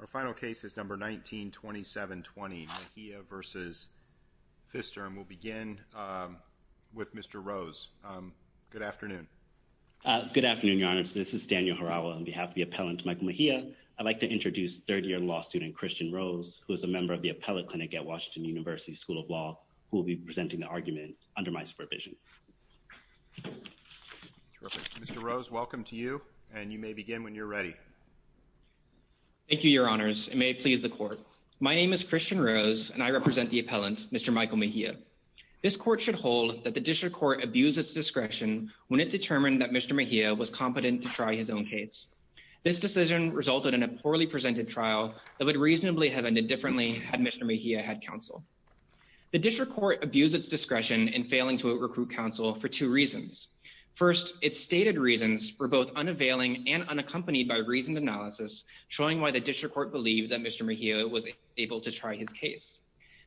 Our final case is number 19-27-20, Mejia v. Pfister, and we'll begin with Mr. Rose. Good afternoon. Good afternoon, Your Honor. This is Daniel Harawa on behalf of the appellant Michael Mejia. I'd like to introduce third-year law student Christian Rose, who is a member of the Appellate Clinic at Washington University School of Law, who will be presenting the argument under my supervision. Thank you, Your Honors, and may it please the Court. My name is Christian Rose, and I represent the appellant, Mr. Michael Mejia. This Court should hold that the District Court abused its discretion when it determined that Mr. Mejia was competent to try his own case. This decision resulted in a poorly presented trial that would reasonably have ended differently had Mr. Mejia had counsel. The District Court abused its discretion in failing to recruit counsel for two reasons. First, its stated reasons were both unavailing and unaccompanied by reasoned analysis showing why the District Court believed that Mr. Mejia was able to try his case.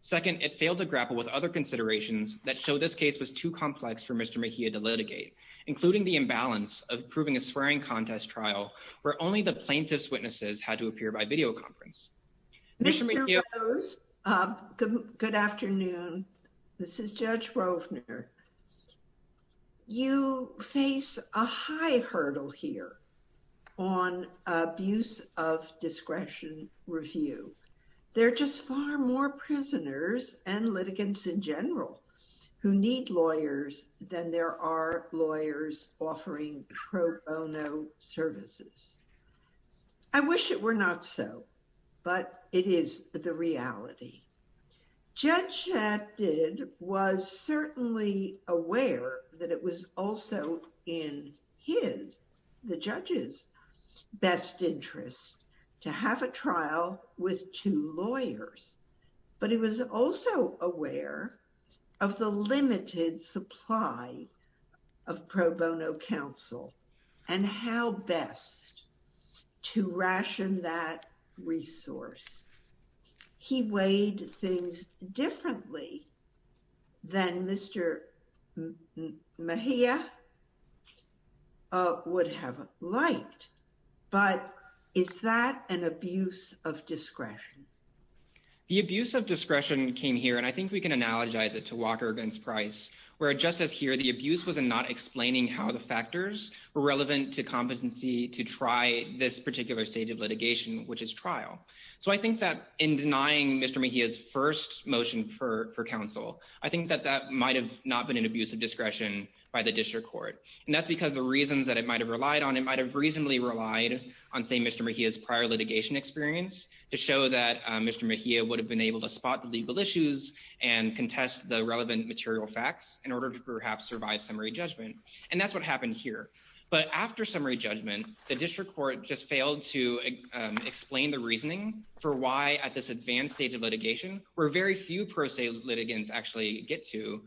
Second, it failed to grapple with other considerations that show this case was too complex for Mr. Mejia to litigate, including the imbalance of proving a swearing contest trial where only the plaintiff's witnesses had to appear by videoconference. Mr. Rose, good afternoon. This is Judge Rovner. You face a high hurdle here on abuse of discretion review. There are just far more prisoners and litigants in general who need lawyers than there are lawyers offering pro bono services. I wish it were not so, but it is the reality. Judge Shaddid was certainly aware that it was also in his, the judge's, best interest to have a trial with two lawyers, but he was also aware of the limited supply of pro bono counsel and how best to ration that resource. He weighed things differently than Mr. Mejia would have liked, but is that an abuse of discretion? The abuse of discretion came here, and I think we can analogize it to Walker v. Price, where just as here, the abuse was in not explaining how the factors were relevant to competency to try this particular stage of litigation, which is trial. So I think that in denying Mr. Mejia's first motion for counsel, I think that that might have not been an abuse of discretion by the district court, and that's because the reasons that it might have relied on, it might have reasonably relied on, say, Mr. Mejia's prior litigation experience to show that Mr. Mejia would have been able to spot the legal issues and contest the relevant material facts in order to perhaps survive summary judgment, and that's what happened here. But after summary judgment, the district court just failed to explain the reasoning for why at this advanced stage of litigation, where very few pro se litigants actually get to,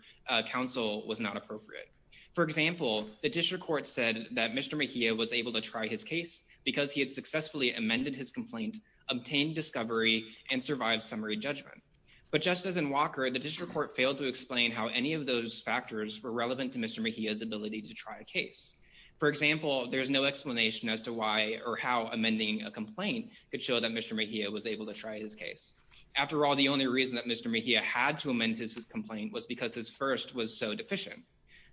counsel was not appropriate. For example, the district court said that Mr. Mejia was able to try his case because he had successfully amended his complaint, obtained discovery, and survived summary judgment. But just as in Walker, the district court failed to explain how any of those factors were relevant to Mr. Mejia's ability to try a case. For example, there's no explanation as to why or how amending a complaint could show that Mr. Mejia was able to try his case. After all, the only reason that Mr. Mejia had to amend his complaint was because his first was so deficient.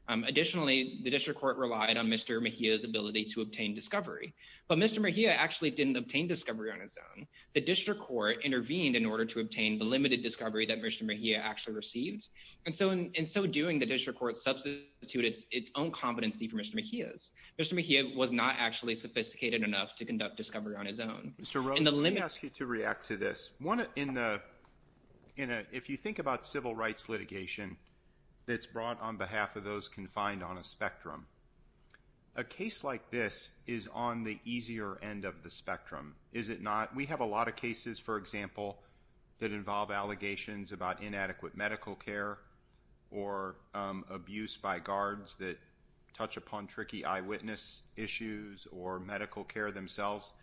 Additionally, the district court relied on Mr. Mejia's ability to obtain discovery, but Mr. Mejia actually didn't obtain discovery on his own. The district court intervened in order to obtain the limited discovery that Mr. Mejia actually received, and so in so doing, the district court substituted its own competency for Mr. Mejia's. Mr. Mejia was not actually sophisticated enough to conduct discovery on his own. Mr. Rose, let me ask you to react to this. If you think about civil rights litigation that's brought on behalf of those confined on a spectrum, a case like this is on the easier end of the spectrum, is it not? We have a lot of cases, for example, that involve allegations about inadequate medical care or abuse by guards that touch upon tricky eyewitness issues or medical care themselves.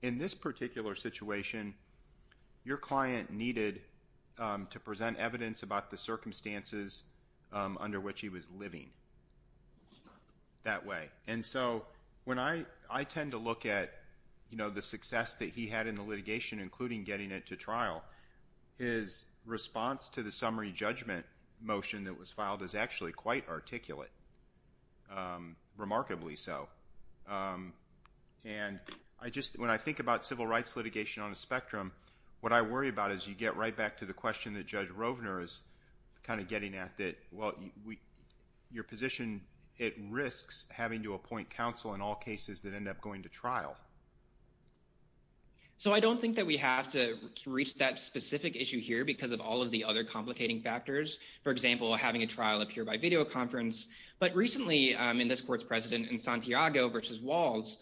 In this particular situation, your client needed to present evidence about the circumstances under which he was living that way, and so I tend to look at the success that he had in the litigation, including getting it to trial. His response to the summary judgment motion that was filed is actually quite articulate, remarkably so, and I just, when I think about civil rights litigation on a spectrum, what I worry about is you get right back to the question that Judge Rovner is kind of getting at that, well, your position, it risks having to appoint counsel in all cases that end up going to trial. So I don't think that we have to reach that specific issue here because of all of the other complicating factors. For example, having a trial appear by videoconference, but recently in this court's precedent in Santiago v. Walls,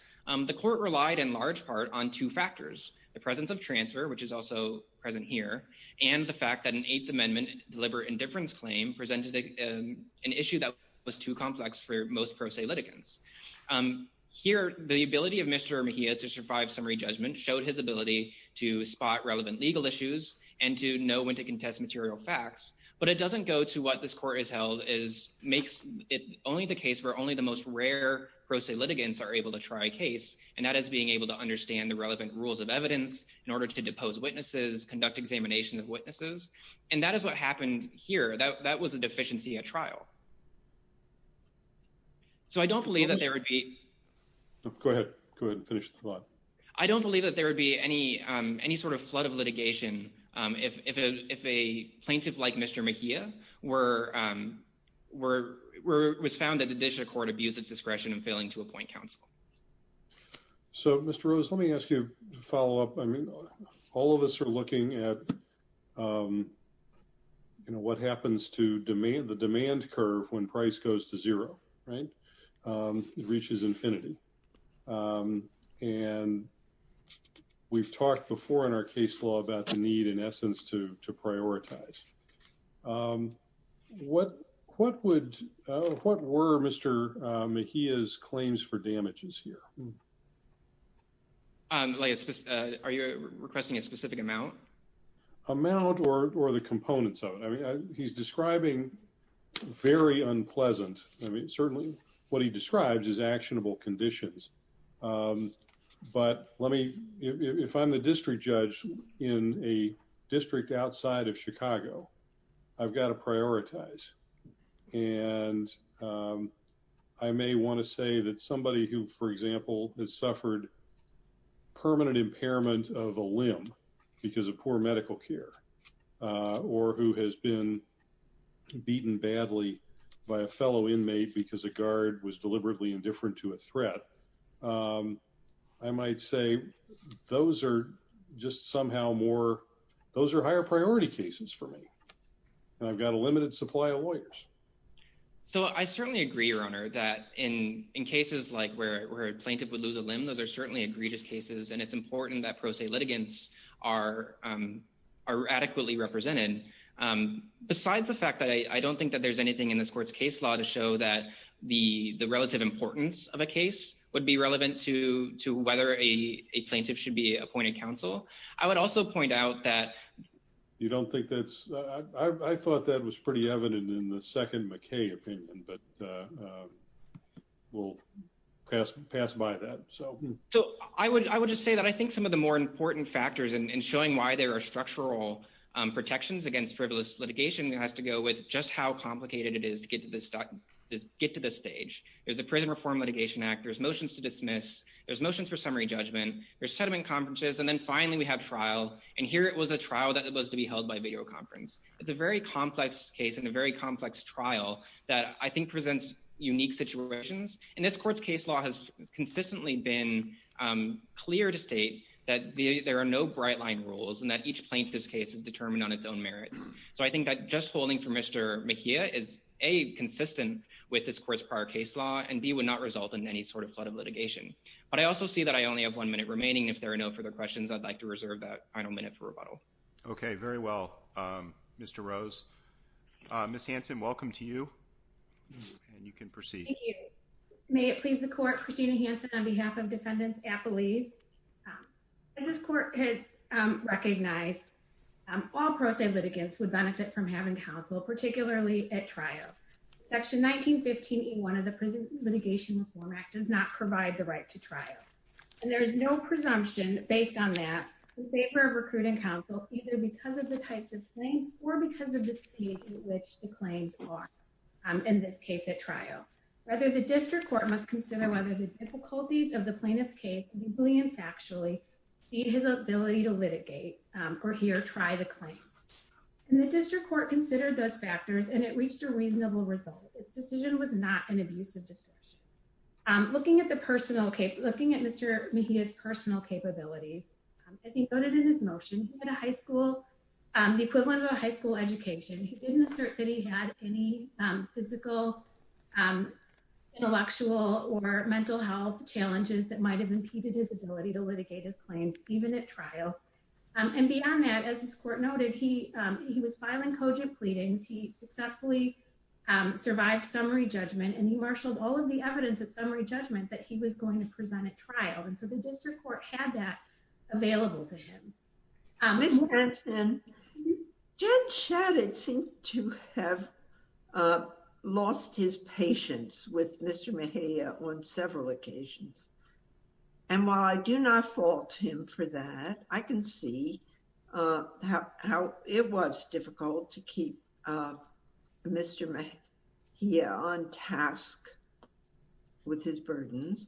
the court relied in large part on two factors, the presence of transfer, which is also present here, and the fact that an Eighth Amendment deliberate indifference claim presented an issue that was too complex for most pro se litigants. Here, the ability of Mr. Mejia to survive summary judgment showed his ability to spot relevant legal issues and to know when to contest material facts, but it doesn't go to what this court has held, is makes it only the case where only the most rare pro se litigants are able to try a case, and that is being able to understand the relevant rules of evidence in order to depose witnesses, conduct examination of witnesses, and that is what happened here. That was a deficiency at trial. So, I don't believe that there would be... Go ahead. Go ahead and finish the thought. I don't believe that there would be any sort of flood of litigation if a plaintiff like Mr. Mejia was found at the judicial court to abuse its discretion in failing to appoint counsel. So, Mr. Rose, let me ask you to follow up. I mean, all of us are looking at, you know, what happens to the demand curve when price goes to zero, right? It reaches infinity. And we've talked before in our case law about the need, in essence, to prioritize. What were Mr. Mejia's claims for damages here? Are you requesting a specific amount? Amount or the components of it. He's describing very unpleasant, I mean, certainly what he describes is actionable conditions. But let me... If I'm the district judge in a district outside of Chicago, I've got to prioritize. And I may want to say that somebody who, for example, has suffered permanent impairment of a limb because of poor medical care or who has been beaten badly by a fellow inmate because a guard was deliberately indifferent to a threat, I might say those are just somehow more... Those are higher priority cases for me. And I've got a limited supply of lawyers. So I certainly agree, Your Honor, that in cases like where a plaintiff would lose a limb, those are certainly egregious cases. And it's important that pro se litigants are adequately represented. Besides the fact that I don't think that there's anything in this court's case law to show that the relative importance of a case would be relevant to whether a plaintiff should be appointed counsel, I would also point out that... You don't think that's... I thought that was pretty evident in the second McKay opinion, but we'll pass by that. So I would just say that I think some of the more important factors in showing why there are structural protections against frivolous litigation has to go with just how complicated it is to get to this stage. There's the Prison Reform Litigation Act. There's motions to dismiss. There's motions for summary judgment. There's settlement conferences. And then finally, we have trial. And here, it was a trial that was to be held by videoconference. It's a very complex case and a very complex trial that I think presents unique situations. And this court's case law has consistently been clear to state that there are no bright line rules and that each plaintiff's case is determined on its own merits. So I think that just holding for Mr. McKay is A, consistent with this court's prior case law, and B, would not result in any sort of flood of litigation. But I also see that I only have one minute remaining. If there are no further questions, I'd like to reserve that final minute for rebuttal. Okay. Very well, Mr. Rose. Ms. Hanson, welcome to you. And you can proceed. Thank you. May it please the court, Christina Hanson, on behalf of defendants at Belize. As this court has recognized, all pro se litigants would benefit from having counsel, particularly at trial. Section 1915E1 of the Prison Litigation Reform Act does not provide the right to trial. And there is no presumption based on that in favor of recruiting counsel, either because of the types of claims or because of the state in which the claims are, in this case at trial. Rather, the district court must consider whether the difficulties of the plaintiff's case, legally and factually, feed his ability to litigate, or here, try the claims. And the district court considered those factors, and it reached a reasonable result. Its decision was not an abusive discretion. Looking at Mr. Mejia's personal capabilities, as he noted in his motion, he had a high school, the equivalent of a high school education. He didn't assert that he had any physical, intellectual, or mental health challenges that might have impeded his ability to litigate his claims, even at trial. And beyond that, as this court noted, he was filing cogent pleadings. He successfully survived summary judgment, and he marshaled all of the evidence at summary judgment that he was going to present at trial. And so the district court had that available to him. Ms. Jackson, Judge Shadid seemed to have lost his patience with Mr. Mejia on several occasions. And while I do not fault him for that, I can see how it was difficult to keep Mr. Mejia on task with his burdens.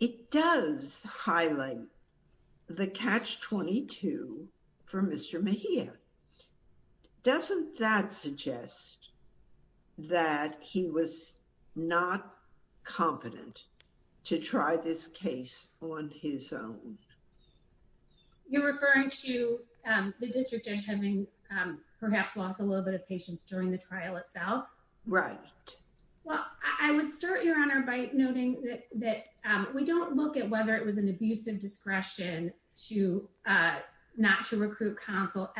It does highlight the catch-22 for Mr. Mejia. Doesn't that suggest that he was not competent to try this case on his own? You're referring to the district judge having perhaps lost a little bit of patience during the trial itself? Right. Well, I would start, Your Honor, by noting that we don't look at whether it was an abusive discretion to not to recruit counsel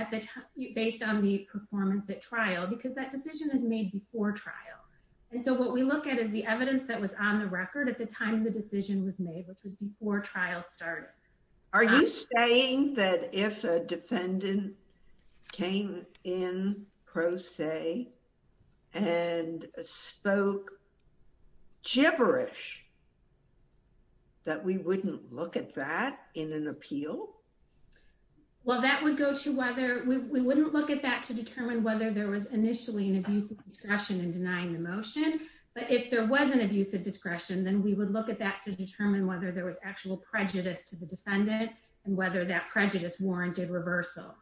based on the performance at trial, because that decision is made before trial. And so what we look at is the evidence that was on the record at the time the decision was made, which was before trial started. Are you saying that if a defendant came in pro se and spoke gibberish, that we wouldn't look at that in an appeal? Well, we wouldn't look at that to determine whether there was initially an abusive discretion in denying the motion. But if there was an abusive discretion, then we would look at that to determine whether there was actual prejudice to the defendant and whether that prejudice warranted reversal.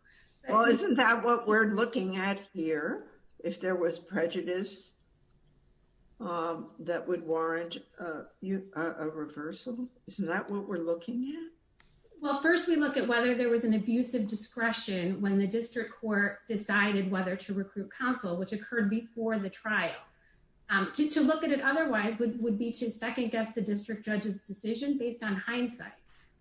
Well, isn't that what we're looking at here? If there was prejudice that would warrant a reversal? Isn't that what we're looking at? Well, first, we look at whether there was an abusive discretion when the district court decided whether to recruit counsel, which occurred before the trial. To look at it otherwise would be to second guess the district judge's decision based on hindsight.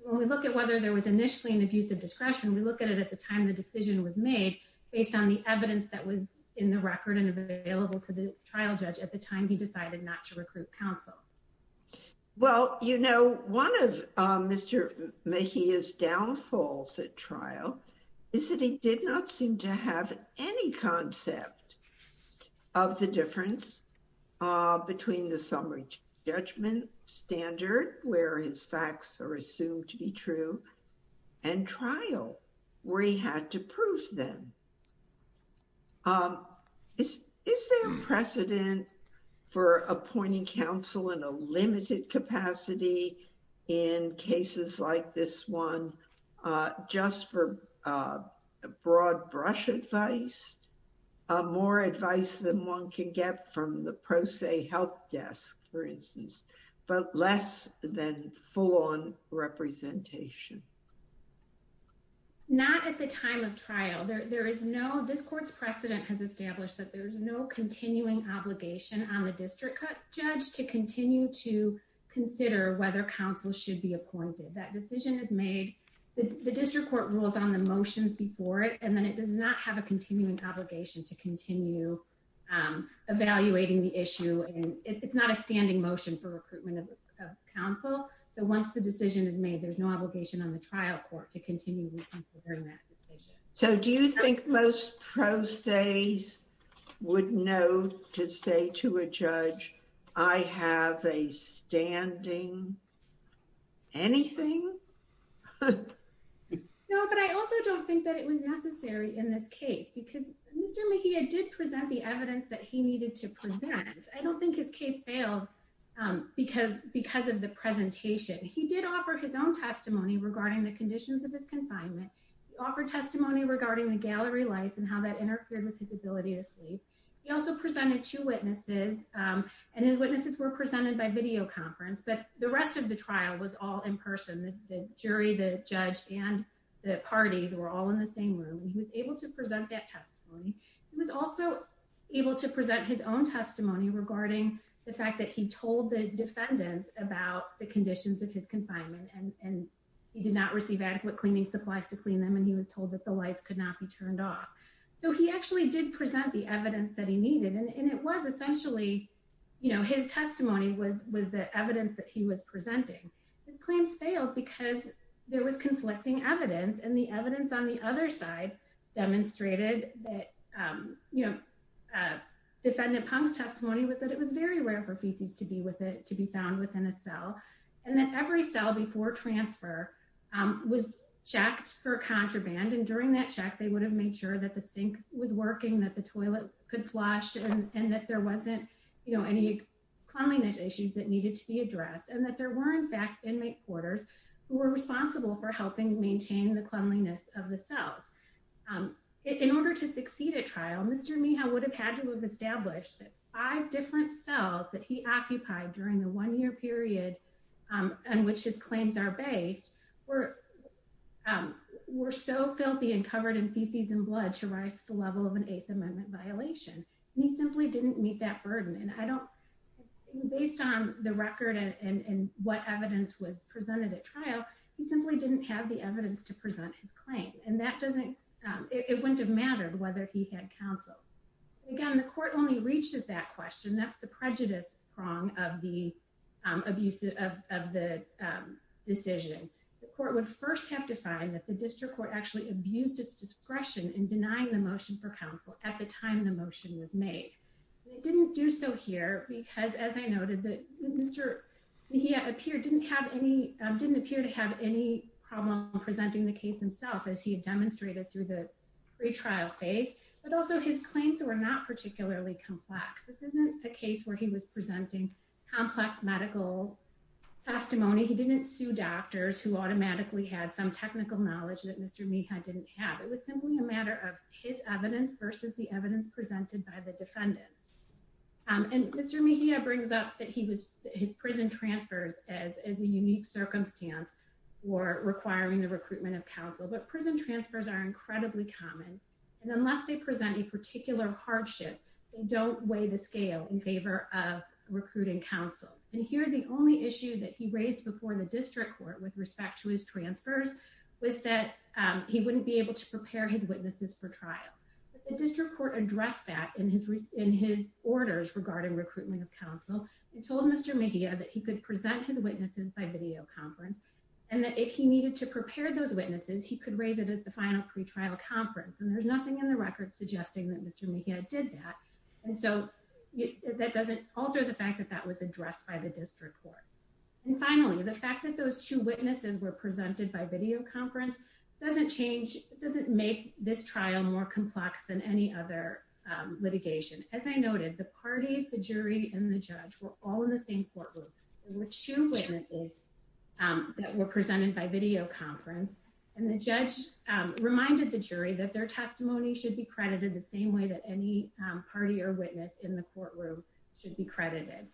When we look at whether there was initially an abusive discretion, we look at it at the time the decision was made based on the evidence that was in the record and available to the trial judge at the time he decided not to recruit counsel. Well, you know, one of Mr. Mejia's downfalls at trial is that he did not seem to have any concept of the difference between the summary judgment standard, where his facts are assumed to be true, and trial, where he had to prove them. Is there a precedent for appointing counsel in a limited capacity in cases like this one just for broad brush advice, more advice than one can get from the pro se help desk, for instance, but less than full-on representation? Not at the time of trial. This court's precedent has established that there is no continuing obligation on the district judge to continue to consider whether counsel should be appointed. That decision is made, the district court rules on the motions before it, and then it does not have a continuing obligation to continue evaluating the issue. It's not a standing motion for recruitment of counsel, so once the decision is made, there's no obligation on the trial court to continue considering that decision. So do you think most pro se's would know to say to a judge, I have a standing anything? No, but I also don't think that it was necessary in this case, because Mr. Mejia did present the evidence that he needed to present. I don't think his case failed because of the presentation. He did offer his own testimony regarding the conditions of his confinement, offered testimony regarding the gallery lights and how that interfered with his ability to sleep. He also presented two witnesses, and his witnesses were presented by video conference, but the rest of the trial was all in person. The jury, the judge, and the parties were all in the same room, and he was able to present that testimony. He was also able to present his own testimony regarding the fact that he told the defendants about the conditions of his confinement, and he did not receive adequate cleaning supplies to clean them, and he was told that the lights could not be turned off. So he actually did present the evidence that he needed, and it was essentially, you know, his testimony was the evidence that he was presenting. His claims failed because there was conflicting evidence, and the evidence on the other side demonstrated that, you know, defendant Pong's testimony was that it was very rare for feces to be with it, to be found within a cell, and that every cell before transfer was checked for contraband, and during that check, they would have made sure that the sink was working, that the toilet could flush, and that there wasn't, you know, any cleanliness issues that needed to be addressed, and that there were, in fact, inmate quarters who were responsible for helping maintain the cleanliness of the cells. In order to succeed at trial, Mr. Mehal would have had to have established that five different cells that he occupied during the one-year period on which his claims are based were so filthy and covered in feces and blood to rise to the level of an Eighth Amendment violation, and he simply didn't meet that burden, and I don't, based on the record and what evidence was presented at trial, he simply didn't have the evidence to present his claim, and that doesn't, it wouldn't have mattered whether he had counsel. Again, the court only reaches that question. That's the prejudice prong of the decision. The court would first have to find that the district court actually abused its discretion in denying the motion for counsel at the time the motion was made, and it didn't do so here because, as I noted, Mr. Mehal didn't appear to have any problem presenting the case himself as he had demonstrated through the pre-trial phase, but also his claims were not particularly complex. This isn't a case where he was presenting complex medical testimony. He didn't sue doctors who automatically had some technical knowledge that Mr. Mehal didn't have. It was simply a matter of his evidence versus the evidence presented by the defendants, and Mr. Mehal brings up that he was, his prison transfers as a unique circumstance were requiring the recruitment of counsel, but prison transfers are incredibly common, and unless they present a particular hardship, they don't weigh the scale in favor of recruiting counsel, and here the only issue that he raised before the district court with respect to his transfers was that he wouldn't be able to prepare his witnesses for trial, but the district court addressed that in his orders regarding recruitment of counsel and told Mr. Mehal that he could prepare those witnesses, he could raise it at the final pre-trial conference, and there's nothing in the record suggesting that Mr. Mehal did that, and so that doesn't alter the fact that that was addressed by the district court, and finally, the fact that those two witnesses were presented by video conference doesn't change, doesn't make this trial more complex than any other litigation. As I noted, the parties, the jury, and the judge were all in the same courtroom. There were two witnesses that were presented by video conference, and the judge reminded the jury that their testimony should be credited the same way that any party or witness in the courtroom should be credited.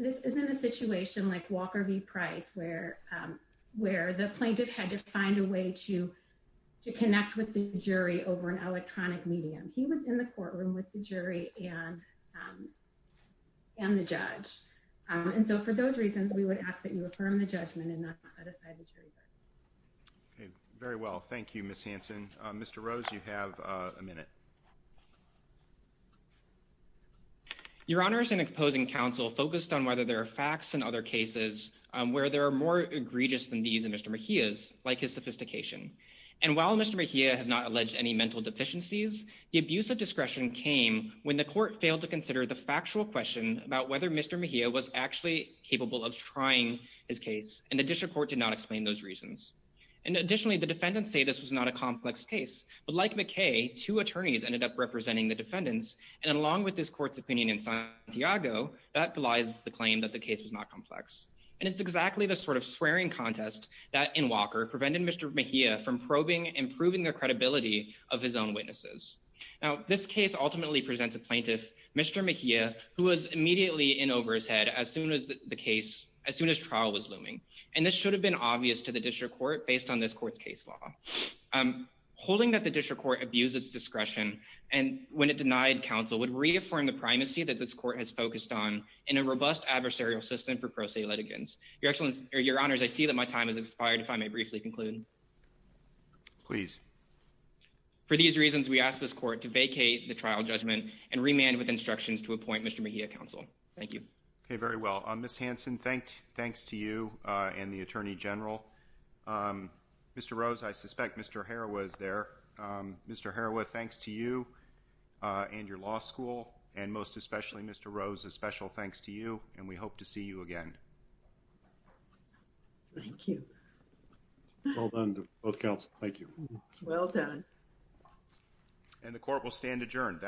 This isn't a situation like Walker v. Price where the plaintiff had to find a way to connect with the jury over an electronic medium. He was in the courtroom with the jury and the judge, and so for those reasons, we would ask that you affirm the judgment and not set aside the jury verdict. Okay, very well. Thank you, Ms. Hanson. Mr. Rose, you have a minute. Your Honors, an opposing counsel focused on whether there are facts in other cases where there are more egregious than these in Mr. Mehal's, like his sophistication, and while Mr. Mehal has not alleged any mental deficiencies, the abuse of discretion came when the court failed to consider the factual question about whether Mr. Mehal was actually capable of trying his case, and the district court did not explain those reasons. And additionally, the defendants say this was not a complex case, but like McKay, two attorneys ended up representing the defendants, and along with this court's opinion in Santiago, that belies the claim that the case was not complex. And it's exactly the sort of swearing contest that in Walker prevented Mr. Mehal from probing and proving the credibility of his own witnesses. Now, this case ultimately presents a plaintiff, Mr. McKay, who was immediately in over his head as soon as the case, as soon as trial was looming, and this should have been obvious to the district court based on this court's case law. Holding that the district court abused its discretion, and when it denied counsel, would reaffirm the primacy that this court has focused on in a robust adversarial system for pro se litigants. Your Excellency, or Your Honors, I see that my time has expired if I may briefly conclude. Please. For these reasons, we ask this court to vacate the trial judgment and remand with instructions to appoint Mr. Mehal to counsel. Thank you. Okay, very well. Ms. Hanson, thanks to you and the Attorney General. Mr. Rose, I suspect Mr. Harawa is there. Mr. Harawa, thanks to you and your law school, and most especially Mr. Rose, a special thanks to you, and we hope to see you again. Thank you. Well done to both counsels. Thank you. Well done. And the court will stand adjourned.